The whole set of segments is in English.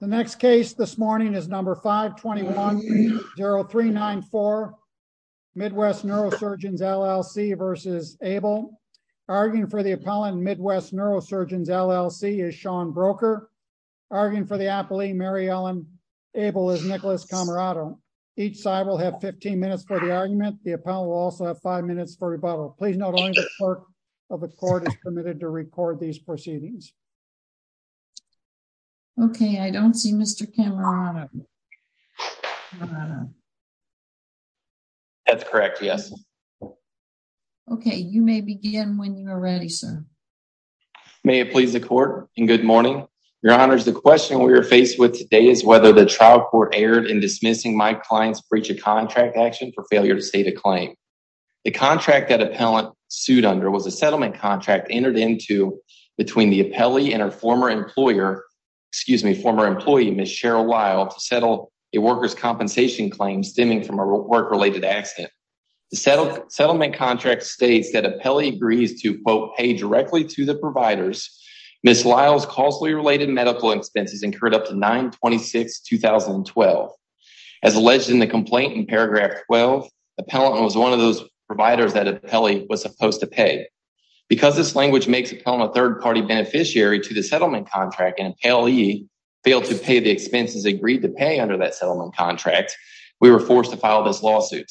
The next case this morning is number 521-0394, Midwest Neurosurgeons, LLC v. Abell. Arguing for the appellant, Midwest Neurosurgeons, LLC, is Sean Broker. Arguing for the appellee, Mary Ellen Abell, is Nicholas Camarado. Each side will have 15 minutes for the argument. The appellant will also have five minutes for rebuttal. Please note only the clerk of the court is permitted to record these proceedings. Okay, I don't see Mr. Camarado. That's correct, yes. Okay, you may begin when you are ready, sir. May it please the court and good morning. Your honors, the question we are faced with today is whether the trial court erred in dismissing my client's breach of contract action for failure to state a claim. The contract that appellant sued under was a settlement contract entered into between the appellee and her former employer, excuse me, former employee, Ms. Cheryl Lyle, to settle a worker's compensation claim stemming from a work-related accident. The settlement contract states that appellee agrees to, quote, pay directly to the providers. Ms. Lyle's costly related medical expenses incurred up to 9-26-2012. As alleged in the complaint in paragraph 12, appellant was one of those providers that appellee was supposed to pay. Because this language makes appellant a third-party beneficiary to the settlement contract and appellee failed to pay the expenses agreed to pay under that settlement contract, we were forced to file this lawsuit.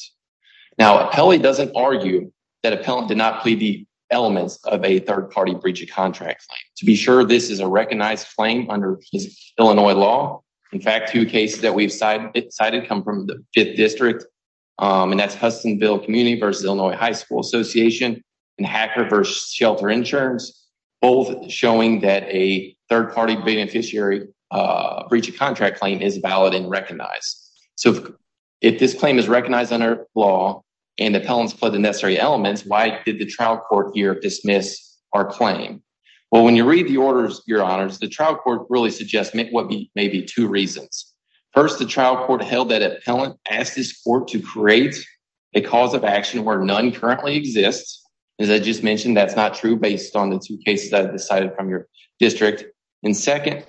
Now, appellee doesn't argue that appellant did not plead the elements of a third-party breach of contract. To be sure, this is a recognized claim under Illinois law. In fact, two cases that we've cited come from the fifth district, and that's Hustonville Community versus Illinois High School Association and Hacker versus Shelter Insurance, both showing that a third-party beneficiary breach of contract claim is valid and recognized. So if this claim is recognized under law and appellants plead the necessary elements, why did the trial court here dismiss our claim? Well, when you read the orders, your honors, the trial court really suggests maybe two reasons. First, the trial court held that appellant asked this court to create a cause of action where none currently exists. As I just mentioned, that's not true based on the two cases that are decided from your district. And second,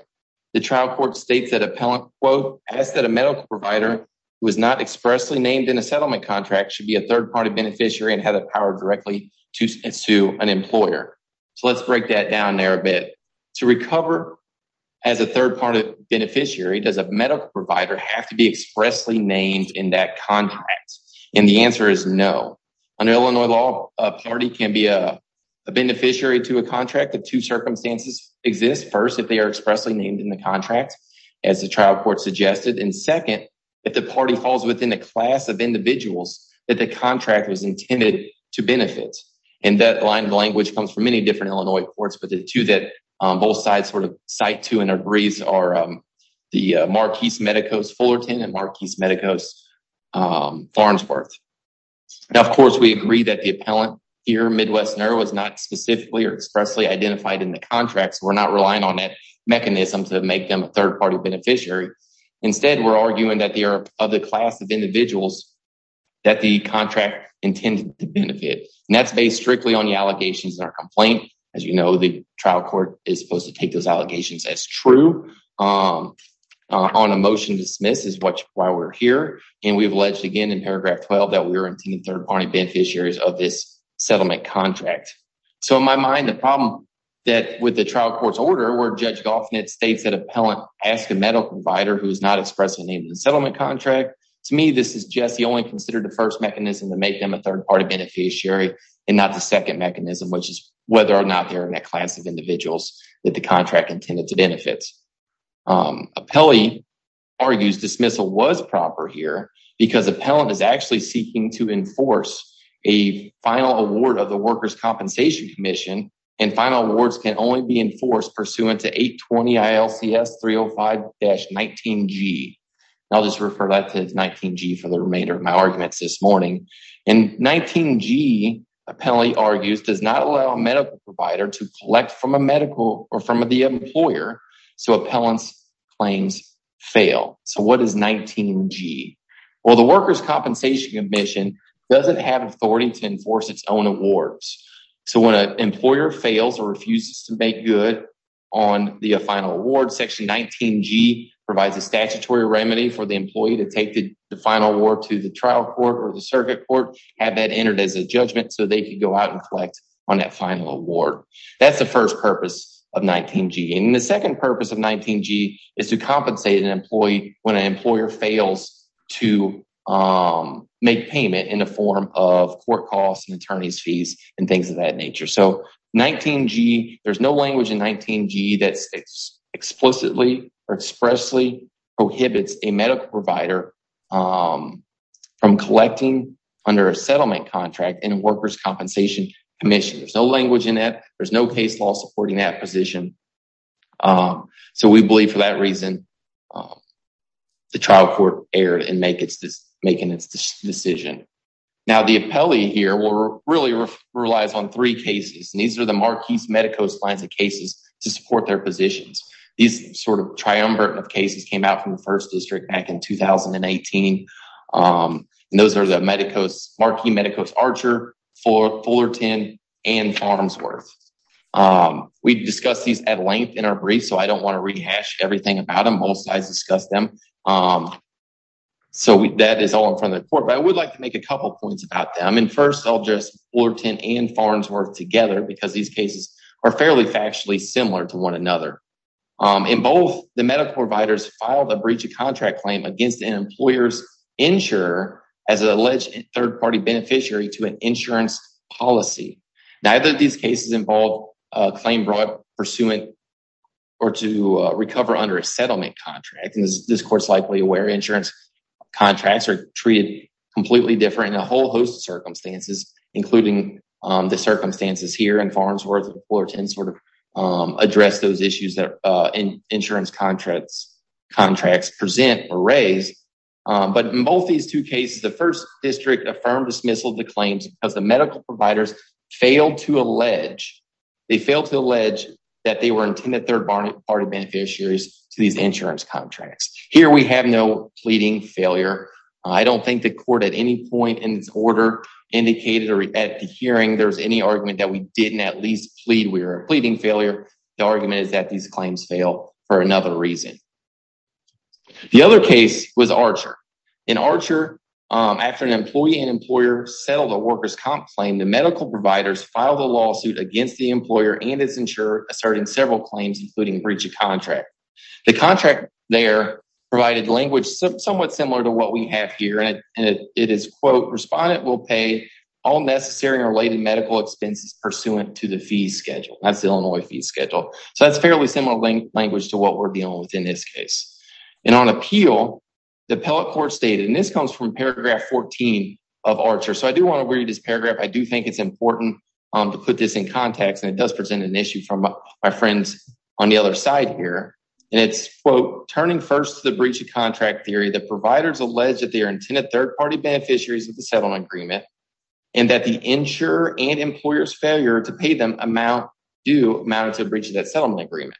the trial court states that appellant, quote, asked that a medical provider who is not expressly named in a settlement contract should be a third-party beneficiary and have the power directly to sue an employer. So let's break that down there a bit. To recover as a third-party beneficiary, does a medical provider have to be expressly named in that contract? And the answer is no. Under Illinois law, a party can be a beneficiary to a contract if two circumstances exist. First, if they are expressly named in the contract, as the trial court suggested. And second, if the party falls within a class of individuals that the contract was intended to benefit. And that line of language comes from many different Illinois courts, but the two that both sides sort of cite to and agrees are the Marquise Medicos Fullerton and Marquise Medicos Farnsworth. Now, of course, we agree that the appellant here, Midwesterner, was not specifically or expressly identified in the contracts. We're not relying on that mechanism to make them a third-party beneficiary. Instead, we're arguing that they are of the class of individuals that the contract intended to benefit. And that's based strictly on the allegations in our complaint. As you know, the trial court is supposed to take those allegations as true. On a motion to dismiss is why we're here. And we've alleged again in paragraph 12 that we were intending third-party beneficiaries of this settlement contract. So in my mind, the problem that with the trial court's order where Judge Goffnett states that appellant asked a medical provider who is not expressly named in the settlement contract. To me, this is just the only considered the first mechanism to make them a third-party beneficiary and not the second mechanism, which is whether or not they're in that class of individuals that the contract intended to benefit. Appellee argues dismissal was proper here because appellant is actually seeking to enforce a final award of the Workers' Compensation Commission and final awards can only be enforced pursuant to 820 ILCS 305-19G. I'll just refer that to 19G for the remainder of my arguments this morning. And 19G, appellee argues does not allow a medical provider to collect from a medical or from the employer so appellant's claims fail. So what is 19G? Well, the Workers' Compensation Commission doesn't have authority to enforce its own awards. So when an employer fails or refuses to make good on the final award, section 19G provides a statutory remedy for the employee to take the final award to the trial court or the circuit court, have that entered as a judgment so they can go out and collect on that final award. That's the first purpose of 19G. And the second purpose of 19G is to compensate an employee when an employer fails to make payment in the form of court costs and attorney's fees and things of that nature. So 19G, there's no language in 19G that explicitly or expressly prohibits a medical provider from collecting under a settlement contract in a Workers' Compensation Commission. There's no language in that. There's no case law supporting that position. So we believe for that reason, the trial court erred in making its decision. Now, the appellee here really relies on three cases. And these are the Marquis Medicos lines of cases to support their positions. These sort of triumvirate of cases came out from the first district back in 2018. And those are the Marquis Medicos Archer, Fullerton, and Farnsworth. We discussed these at length in our brief, so I don't wanna rehash everything about them. Most of us discussed them. So that is all in front of the court. But I would like to make a couple of points about them. And first, I'll just Fullerton and Farnsworth together because these cases are fairly factually similar to one another. In both, the medical providers filed a breach of contract claim against an employer's insurer as an alleged third-party beneficiary to an insurance policy. Neither of these cases involved a claim brought pursuant or to recover under a settlement contract. And this court's likely aware insurance contracts are treated completely different in a whole host of circumstances, including the circumstances here in Farnsworth and Fullerton sort of address those issues that insurance contracts present or raise. But in both these two cases, the first district affirmed dismissal of the claims because the medical providers failed to allege, they failed to allege that they were intended third-party beneficiaries to these insurance contracts. Here, we have no pleading failure. I don't think the court at any point in its order indicated or at the hearing, there's any argument that we didn't at least plead we were pleading failure. The argument is that these claims fail for another reason. The other case was Archer. In Archer, after an employee and employer settled a worker's comp claim, the medical providers filed a lawsuit against the employer and its insurer asserting several claims, including breach of contract. The contract there provided language somewhat similar to what we have here. And it is quote, respondent will pay all necessary or related medical expenses pursuant to the fee schedule. That's the Illinois fee schedule. So that's fairly similar language to what we're dealing with in this case. And on appeal, the appellate court stated, and this comes from paragraph 14 of Archer. So I do wanna read this paragraph. I do think it's important to put this in context and it does present an issue from my friends on the other side here. And it's quote, turning first to the breach of contract theory, the providers allege that they are intended third-party beneficiaries of the settlement agreement and that the insurer and employer's failure to pay them amount do amount to a breach of that settlement agreement.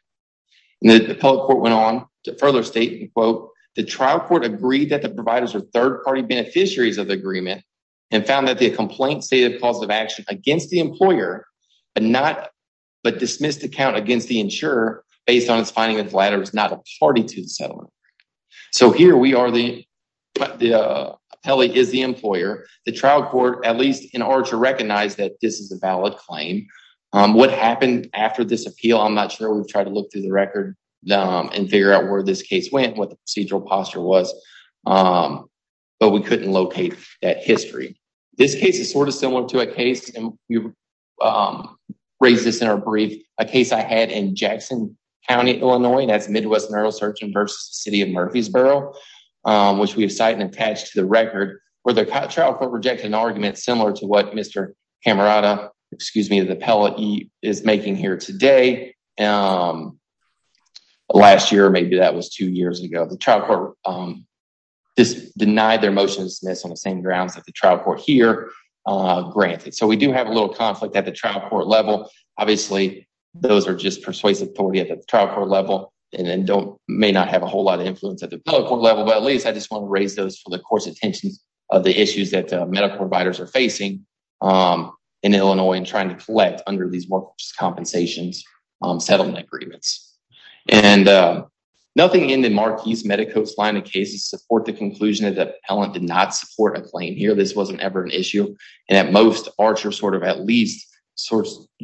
And the appellate court went on to further state, and quote, the trial court agreed that the providers are third-party beneficiaries of the agreement and found that the complaint stated positive action against the employer, but not, but dismissed account against the insurer based on its finding that the latter is not a party to the settlement. So here we are, the appellate is the employer, the trial court, at least in order to recognize that this is a valid claim. What happened after this appeal, I'm not sure, we've tried to look through the record and figure out where this case went, what the procedural posture was, but we couldn't locate that history. This case is sort of similar to a case, and we raised this in our brief, a case I had in Jackson County, Illinois, that's Midwest Neurosurgeon versus City of Murfreesboro, which we've cited and attached to the record where the trial court rejected an argument similar to what Mr. Camerata, excuse me, the appellate is making here today. Last year, maybe that was two years ago, the trial court just denied their motion to dismiss on the same grounds that the trial court here granted. So we do have a little conflict at the trial court level. Obviously, those are just persuasive authority at the trial court level, and then don't, may not have a whole lot of influence at the appellate court level, but at least I just want to raise those for the court's attention of the issues that medical providers are facing in Illinois and trying to collect under these workers' compensations, settlement agreements. And nothing in the Marquis Medicos line of cases support the conclusion that the appellant did not support a claim here. This wasn't ever an issue. And at most, Archer sort of at least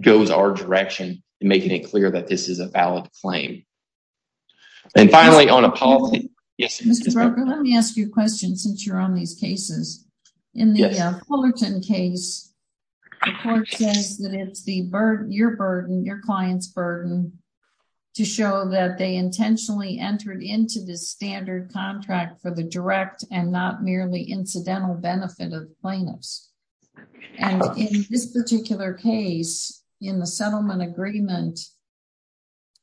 goes our direction in making it clear that this is a valid claim. And finally, on a policy- Yes. Mr. Broker, let me ask you a question since you're on these cases. In the Fullerton case, the court says that it's your burden, your client's burden, to show that they intentionally entered into the standard contract for the direct and not merely incidental benefit of plaintiffs. And in this particular case, in the settlement agreement,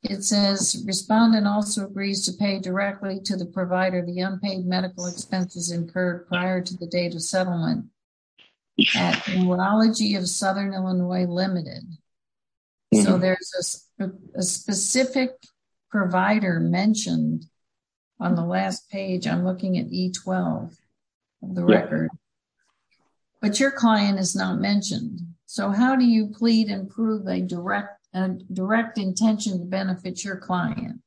it says, respondent also agrees to pay directly to the provider the unpaid medical expenses incurred prior to the date of settlement at Urology of Southern Illinois Limited. So there's a specific provider mentioned on the last page. I'm looking at E12, the record. But your client is not mentioned. So how do you plead and prove a direct intention to benefit your client?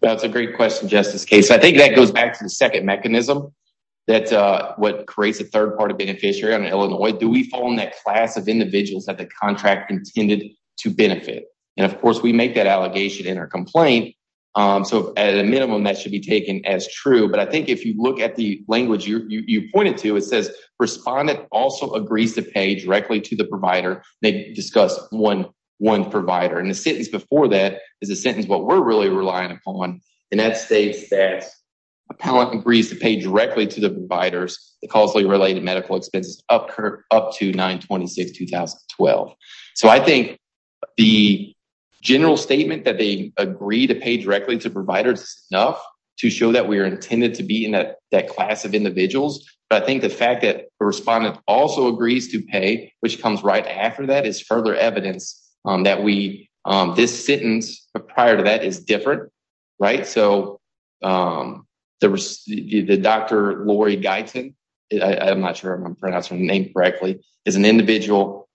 That's a great question, Justice Case. I think that goes back to the second mechanism that's what creates a third-party beneficiary on Illinois. Do we fall in that class of individuals that the contract intended to benefit? And of course, we make that allegation in our complaint. So at a minimum, that should be taken as true. But I think if you look at the language you pointed to, it says, respondent also agrees to pay directly to the provider. They discuss one provider. And the sentence before that is a sentence what we're really relying upon. And that states that a pallet agrees to pay directly to the providers, the costly related medical expenses up to 9-26-2012. So I think the general statement that they agree to pay directly to providers is enough to show that we are intended to be in that class of individuals. But I think the fact that the respondent also agrees to pay, which comes right after that is further evidence that this sentence prior to that is different, right? So the Dr. Lori Guyton, I'm not sure if I'm pronouncing her name correctly, is an individual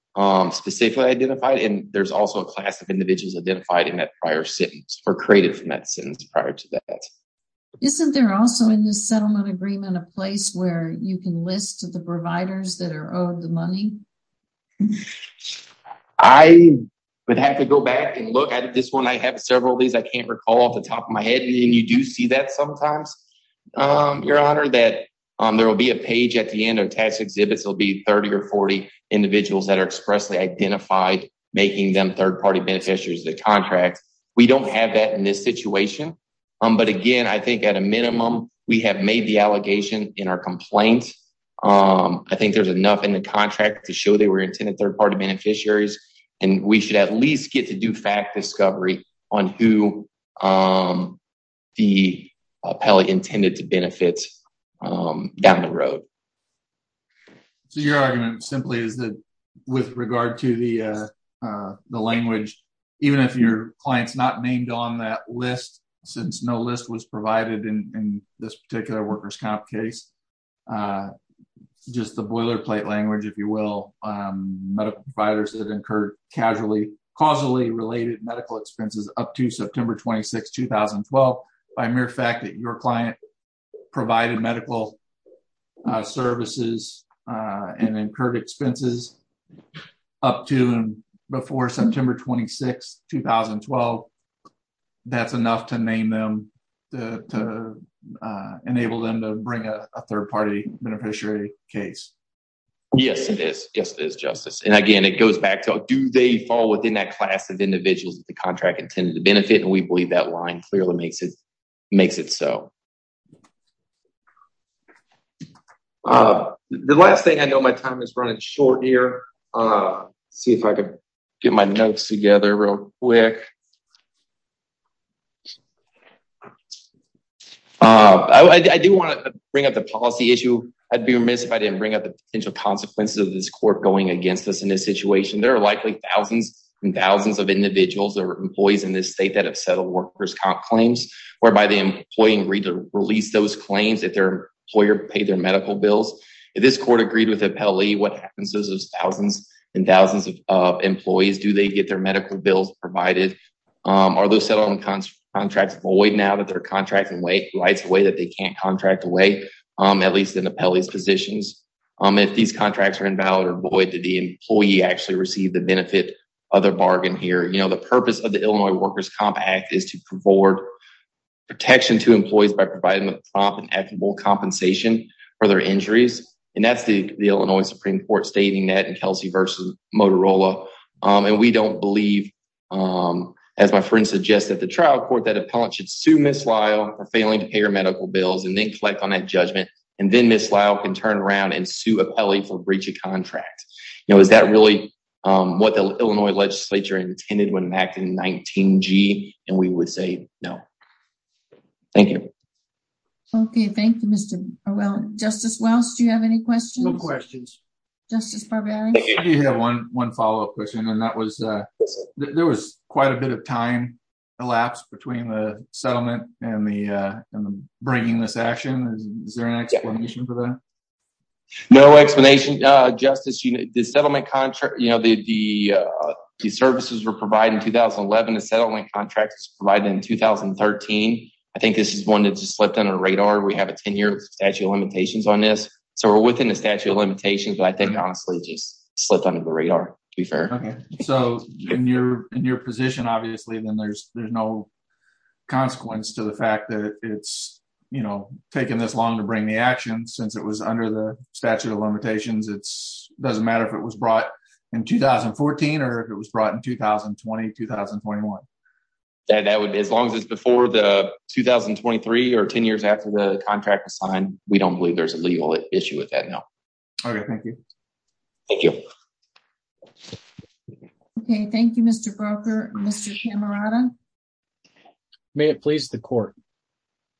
specifically identified. And there's also a class of individuals identified in that prior sentence or created from that sentence prior to that. Isn't there also in the settlement agreement a place where you can list the providers that are owed the money? I would have to go back and look at this one. I have several of these. I can't recall off the top of my head. And you do see that sometimes, Your Honor, that there will be a page at the end of tax exhibits. There'll be 30 or 40 individuals that are expressly identified, making them third-party beneficiaries of the contract. We don't have that in this situation. But again, I think at a minimum, we have made the allegation in our complaint. I think there's enough in the contract to show they were intended third-party beneficiaries. And we should at least get to do fact discovery on who the appellee intended to benefit down the road. So your argument simply is that with regard to the language, even if your client's not named on that list, since no list was provided in this particular workers' comp case, just the boilerplate language, if you will, medical providers that incurred causally related medical expenses up to September 26, 2012, by mere fact that your client provided medical services and incurred expenses up to and before September 26, 2012, that's enough to name them, to enable them to bring a third-party beneficiary case. Yes, it is. Yes, it is, Justice. And again, it goes back to, do they fall within that class of individuals that the contract intended to benefit? And we believe that line clearly makes it so. The last thing, I know my time is running short here. See if I could get my notes together real quick. I do want to bring up the policy issue. I'd be remiss if I didn't bring up the potential consequences of this court going against us in this situation. There are likely thousands and thousands of individuals or employees in this state that have settled workers' comp claims, whereby the employee agreed to release those claims if their employer paid their medical bills. If this court agreed with the appellee, what happens to those thousands and thousands of employees? Do they get their medical bills provided? Are those settlement contracts void now that their contract lights away that they can't contract away, at least in appellee's positions? If these contracts are invalid or void, did the employee actually receive the benefit of their bargain here? The purpose of the Illinois Workers' Comp Act is to provide protection to employees by providing a prompt and equitable compensation for their injuries. And that's the Illinois Supreme Court stating that in Kelsey v. Motorola. And we don't believe, as my friend suggests, at the trial court, that appellant should sue Ms. Lyle for failing to pay her medical bills and then collect on that judgment. And then Ms. Lyle can turn around and sue appellee for breach of contract. Now, is that really what the Illinois legislature intended when enacting 19G? And we would say no. Thank you. Okay, thank you, Mr. O'Reilly. Justice Welch, do you have any questions? No questions. Justice Barberi? I do have one follow-up question. And that was, there was quite a bit of time elapsed between the settlement and the bringing this action. Is there an explanation for that? No explanation, Justice. The settlement contract, the services were provided in 2011. The settlement contract was provided in 2013. I think this is one that just slipped under the radar. We have a 10-year statute of limitations on this. So we're within the statute of limitations, but I think, honestly, it just slipped under the radar, to be fair. So in your position, obviously, there's no consequence to the fact that it's taken this long to bring the action, since it was under the statute of limitations. It doesn't matter if it was brought in 2014 or if it was brought in 2020, 2021. That would, as long as it's before the 2023 or 10 years after the contract was signed, we don't believe there's a legal issue with that, no. Okay, thank you. Thank you. Okay, thank you, Mr. Broecker. Mr. Camerata. May it please the court.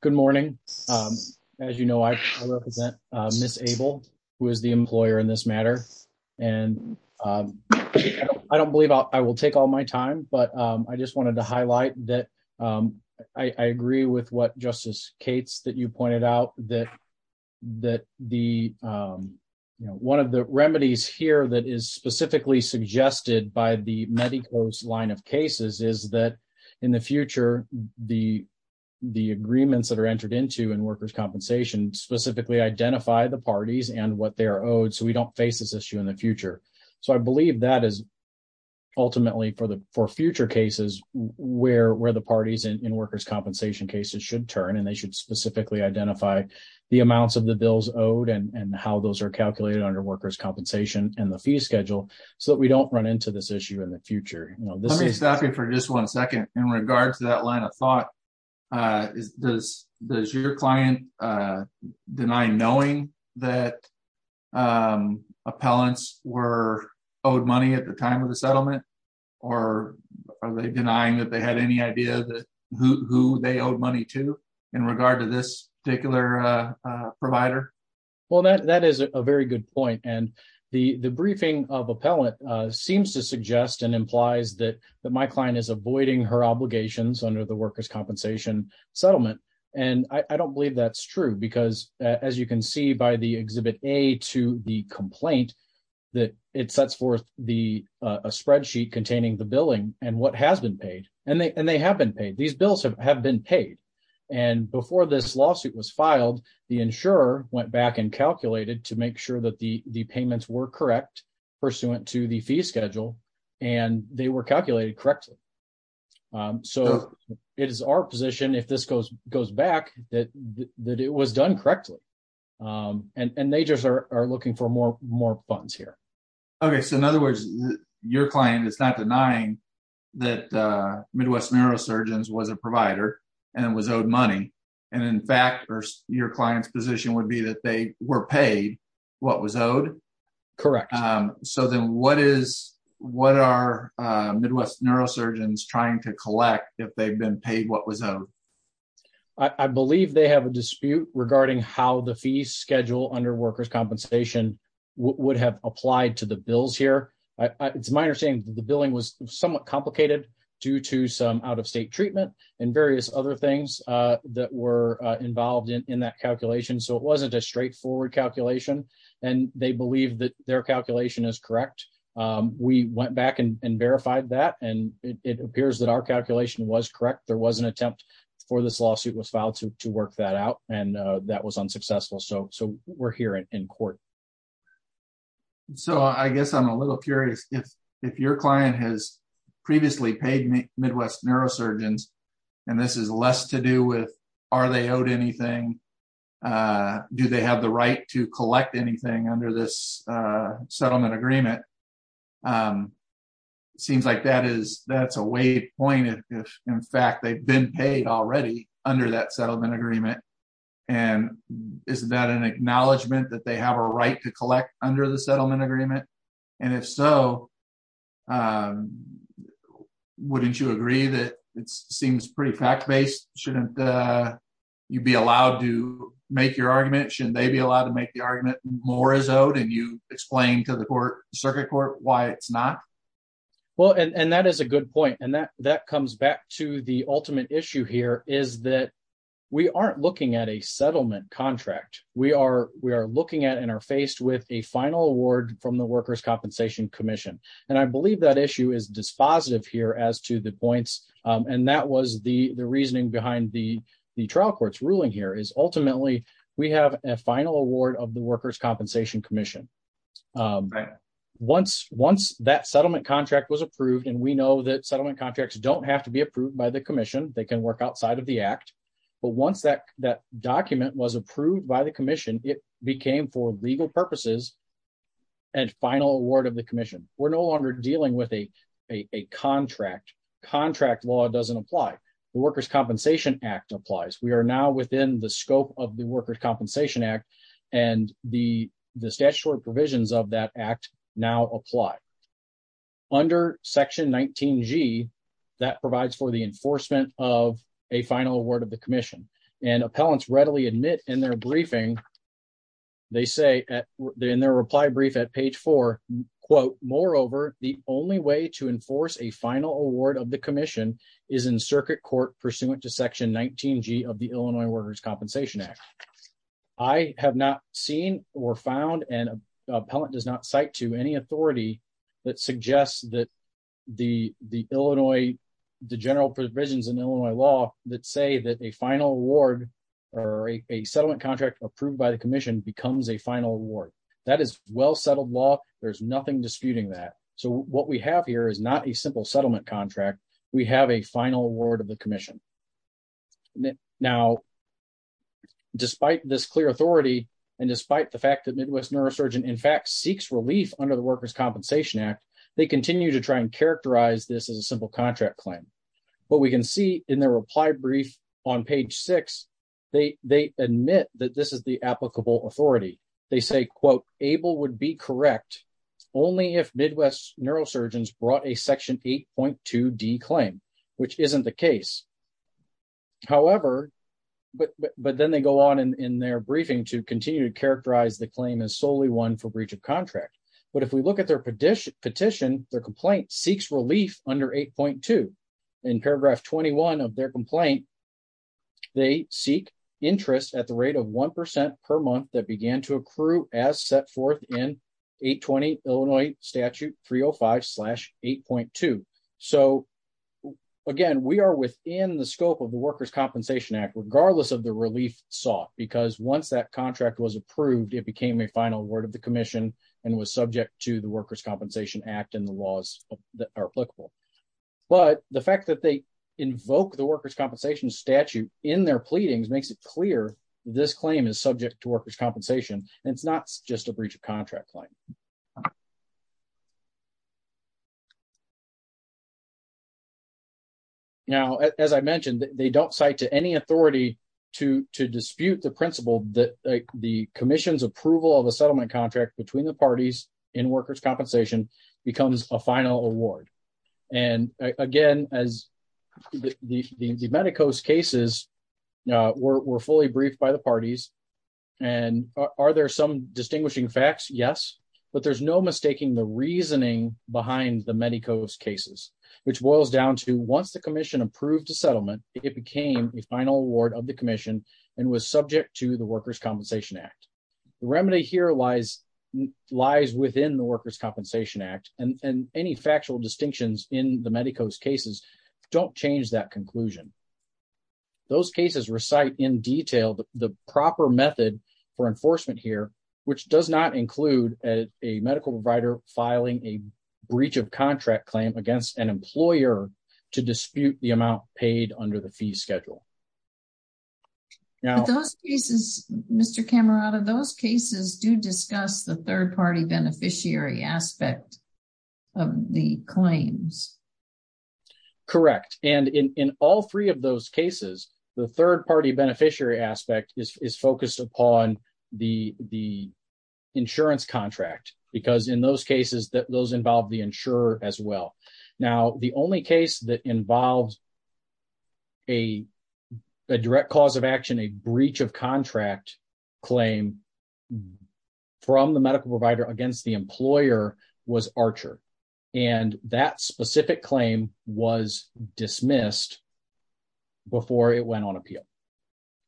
Good morning. As you know, I represent Ms. Abel, who is the employer in this matter. And I don't believe I will take all my time, but I just wanted to highlight that I agree with what Justice Cates, that you pointed out, that one of the remedies here that is specifically suggested by the Medicos line of cases is that in the future, the agreements that are entered into in workers' compensation specifically identify the parties and what they're owed, so we don't face this issue in the future. So I believe that is ultimately for future cases where the parties in workers' compensation cases should turn and they should specifically identify the amounts of the bills owed and how those are calculated under workers' compensation and the fee schedule, so that we don't run into this issue in the future. This is- Let me stop you for just one second. In regards to that line of thought, does your client deny knowing that appellants were owed money at the time of the settlement? Or are they denying that they had any idea that who they owed money to in regard to this particular provider? Well, that is a very good point. And the briefing of appellant seems to suggest and implies that my client is avoiding her obligations under the workers' compensation settlement. And I don't believe that's true, because as you can see by the Exhibit A to the complaint, that it sets forth a spreadsheet containing the billing and what has been paid, and they have been paid. These bills have been paid. And before this lawsuit was filed, the insurer went back and calculated to make sure that the payments were correct pursuant to the fee schedule, and they were calculated correctly. So it is our position, if this goes back, that it was done correctly. And they just are looking for more funds here. Okay, so in other words, your client is not denying that Midwest Neurosurgeons was a provider and was owed money. And in fact, your client's position would be that they were paid what was owed. Correct. So then what are Midwest Neurosurgeons trying to collect if they've been paid what was owed? I believe they have a dispute regarding how the fee schedule under workers' compensation would have applied to the bills here. It's my understanding that the billing was somewhat complicated due to some out-of-state treatment and various other things that were involved in that calculation. So it wasn't a straightforward calculation, and they believe that their calculation is correct. We went back and verified that, and it appears that our calculation was correct. There was an attempt before this lawsuit was filed to work that out, and that was unsuccessful. So we're here in court. So I guess I'm a little curious, if your client has previously paid Midwest Neurosurgeons, and this is less to do with are they owed anything, do they have the right to collect anything under this settlement agreement? It seems like that's a waypoint if, in fact, they've been paid already under that settlement agreement. And isn't that an acknowledgement that they have a right to collect under the settlement agreement? And if so, wouldn't you agree that it seems pretty fact-based? Shouldn't you be allowed to make your argument? Shouldn't they be allowed to make the argument more is owed, and you explain to the circuit court why it's not? Well, and that is a good point, and that comes back to the ultimate issue here is that we aren't looking at a settlement contract. We are looking at and are faced with a final award from the Workers' Compensation Commission. And I believe that issue is dispositive here as to the points, and that was the reasoning behind the trial court's ruling here is ultimately we have a final award of the Workers' Compensation Commission. Once that settlement contract was approved, and we know that settlement contracts don't have to be approved by the commission, they can work outside of the act, but once that document was approved by the commission, it became for legal purposes a final award of the commission. We're no longer dealing with a contract. Contract law doesn't apply. The Workers' Compensation Act applies. We are now within the scope of the Workers' Compensation Act and the statutory provisions of that act now apply. Under section 19G, that provides for the enforcement of a final award of the commission. And appellants readily admit in their briefing, they say in their reply brief at page four, quote, moreover, the only way to enforce a final award of the commission is in circuit court pursuant to section 19G of the Illinois Workers' Compensation Act. I have not seen or found, and appellant does not cite to any authority that suggests that the Illinois, the general provisions in Illinois law that say that a final award or a settlement contract approved by the commission becomes a final award. That is well-settled law. There's nothing disputing that. So what we have here is not a simple settlement contract. We have a final award of the commission. Now, despite this clear authority, and despite the fact that Midwest Neurosurgeon in fact seeks relief under the Workers' Compensation Act, they continue to try and characterize this as a simple contract claim. But we can see in their reply brief on page six, they admit that this is the applicable authority. They say, quote, ABLE would be correct only if Midwest Neurosurgeons brought a section 8.2D claim, which isn't the case. However, but then they go on in their briefing to continue to characterize the claim as solely one for breach of contract. But if we look at their petition, their complaint seeks relief under 8.2. In paragraph 21 of their complaint, they seek interest at the rate of 1% per month that began to accrue as set forth in 820 Illinois statute 305 slash 8.2. So again, we are within the scope of the Workers' Compensation Act, regardless of the relief sought, because once that contract was approved, it became a final word of the commission and was subject to the Workers' Compensation Act and the laws that are applicable. But the fact that they invoke the Workers' Compensation statute in their pleadings makes it clear this claim is subject to workers' compensation, and it's not just a breach of contract claim. Now, as I mentioned, they don't cite to any authority to dispute the principle that the commission's approval of a settlement contract between the parties in workers' compensation becomes a final award. And again, as the Medicos cases were fully briefed by the parties, and are there some distinguishing facts? Yes, but there's no mistaking the reasoning behind the Medicos cases, which boils down to once the commission approved a settlement, it became a final award of the commission and was subject to the Workers' Compensation Act. The remedy here lies within the Workers' Compensation Act and any factual distinctions in the Medicos cases don't change that conclusion. Those cases recite in detail the proper method for enforcement here, which does not include a medical provider filing a breach of contract claim against an employer to dispute the amount paid under the fee schedule. Now- But those cases, Mr. Camarata, those cases do discuss the third-party beneficiary aspect of the claims. Correct. And in all three of those cases, the third-party beneficiary aspect is focused upon the insurance contract, because in those cases, those involve the insurer as well. Now, the only case that involves a direct cause of action, a breach of contract claim from the medical provider against the employer was Archer. And that specific claim was dismissed before it went on appeal.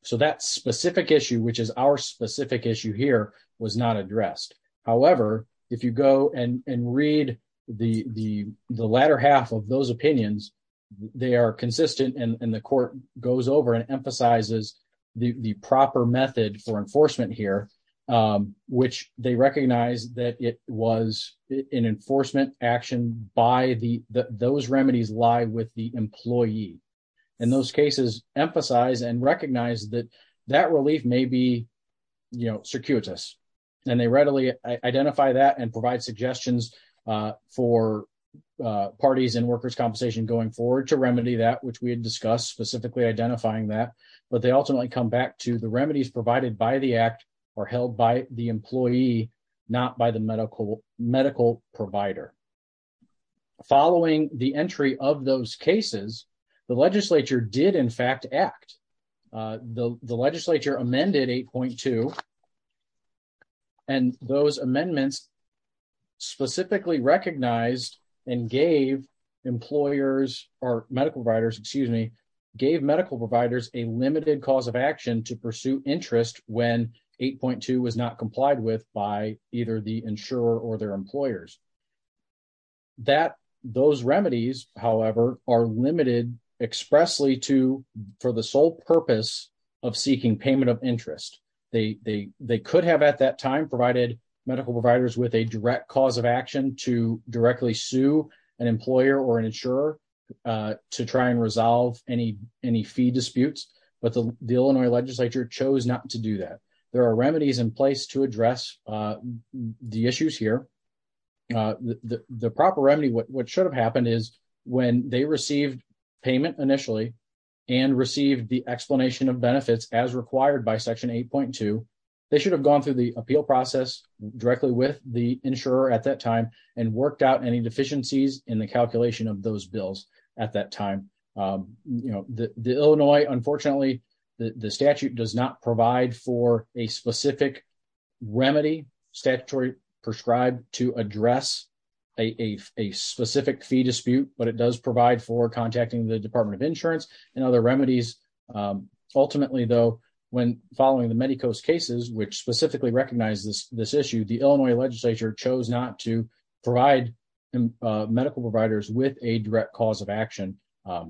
So that specific issue, which is our specific issue here, was not addressed. However, if you go and read the latter half of those opinions, they are consistent and the court goes over and emphasizes the proper method for enforcement here, which they recognize that it was an enforcement action by the, those remedies lie with the employee. And those cases emphasize and recognize that that relief may be, you know, circuitous. And they readily identify that and provide suggestions for parties and workers' compensation going forward to remedy that, which we had discussed specifically identifying that. But they ultimately come back to the remedies provided by the act or held by the employee, not by the medical provider. Following the entry of those cases, the legislature did in fact act. The legislature amended 8.2, and those amendments specifically recognized and gave employers or medical providers, excuse me, gave medical providers a limited cause of action to pursue interest when 8.2 was not complied with by either the insurer or their employers. That, those remedies, however, are limited expressly to, for the sole purpose of seeking payment of interest. They could have at that time provided medical providers with a direct cause of action to directly sue an employer or an insurer to try and resolve any fee disputes. But the Illinois legislature chose not to do that. There are remedies in place to address the issues here. The proper remedy, what should have happened is when they received payment initially and received the explanation of benefits as required by section 8.2, they should have gone through the appeal process directly with the insurer at that time and worked out any deficiencies in the calculation of those bills at that time. You know, the Illinois, unfortunately, the statute does not provide for a specific remedy, statutory prescribed to address a specific fee dispute, but it does provide for contacting the Department of Insurance and other remedies. Ultimately, though, when following the Medicos cases, which specifically recognize this issue, the Illinois legislature chose not to provide medical providers with a direct cause of action.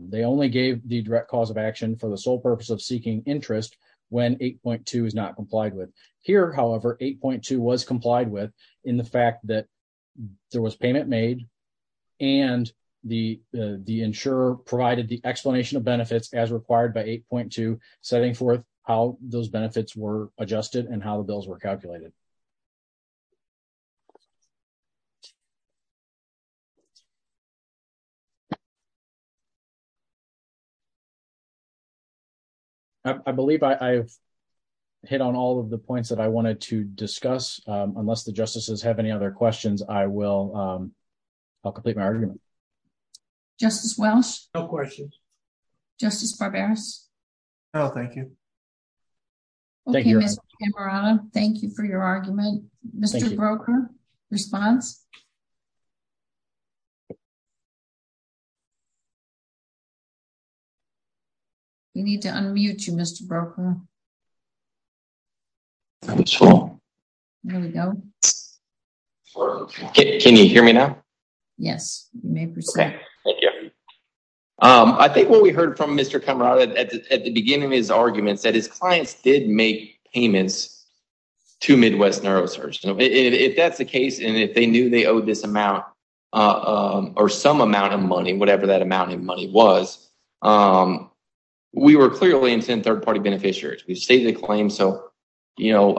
They only gave the direct cause of action for the sole purpose of seeking interest when 8.2 is not complied with. Here, however, 8.2 was complied with in the fact that there was payment made and the insurer provided the explanation of benefits as required by 8.2, setting forth how those benefits were adjusted and how the bills were calculated. I believe I've hit on all of the points that I wanted to discuss. Unless the justices have any other questions, I'll complete my argument. Justice Welsh? No questions. Justice Barberos? No, thank you. Okay, Ms. Cameron, thank you for your argument. Mr. Broecker, response? You need to unmute you, Mr. Broecker. That was wrong. There we go. Can you hear me now? Yes, you may proceed. Okay, thank you. I think what we heard from Mr. Cameron at the beginning of his arguments that his clients did make payments to Midwest Neurosurge. If that's the case and if they knew they owed this amount or some amount of money, whatever that amount of money was, we were clearly intent third-party beneficiaries. We've stated the claim, so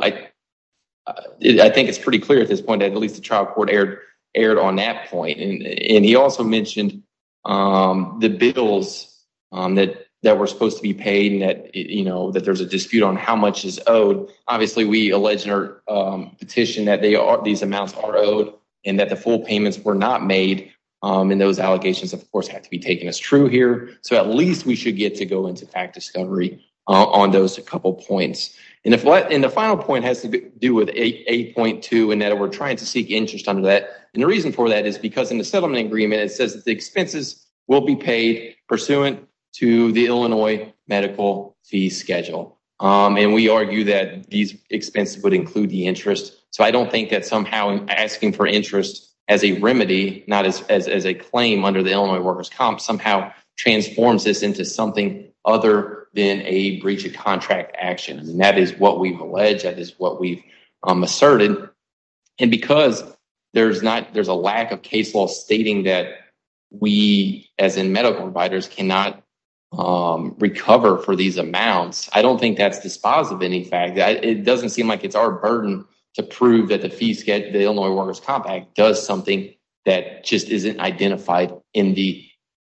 I think it's pretty clear at this point that at least the trial court erred on that point. And he also mentioned the bills that were supposed to be paid and that there's a dispute on how much is owed. Obviously, we allege in our petition that these amounts are owed and that the full payments were not made and those allegations, of course, have to be taken as true here. So at least we should get to go into fact discovery on those a couple of points. And the final point has to do with 8.2 and that we're trying to seek interest under that. And the reason for that is because in the settlement agreement, it says that the expenses will be paid pursuant to the Illinois medical fee schedule. And we argue that these expenses would include the interest. So I don't think that somehow asking for interest as a remedy, not as a claim under the Illinois workers comp somehow transforms this into something other than a breach of contract action. And that is what we've alleged, that is what we've asserted. And because there's a lack of case law stating that we, as in medical providers, cannot recover for these amounts, I don't think that's dispositive of any fact. It doesn't seem like it's our burden to prove that the Illinois workers comp act does something that just isn't identified in the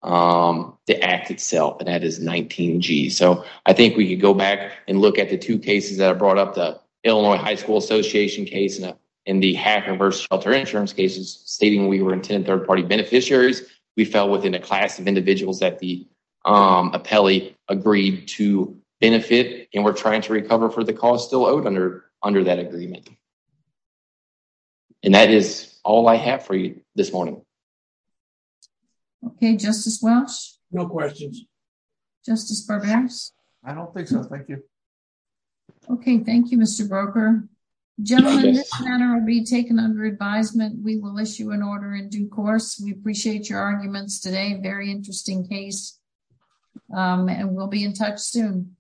act itself, and that is 19G. So I think we could go back and look at the two cases that are brought up, the Illinois high school association case and the hacker versus shelter insurance cases stating we were intended third party beneficiaries. We fell within a class of individuals that the appellee agreed to benefit. And we're trying to recover for the cost still owed under that agreement. And that is all I have for you this morning. Okay, Justice Welch. No questions. Justice Burbanks. I don't think so, thank you. Okay, thank you, Mr. Broker. Gentlemen, this matter will be taken under advisement. We will issue an order in due course. We appreciate your arguments today, very interesting case, and we'll be in touch soon.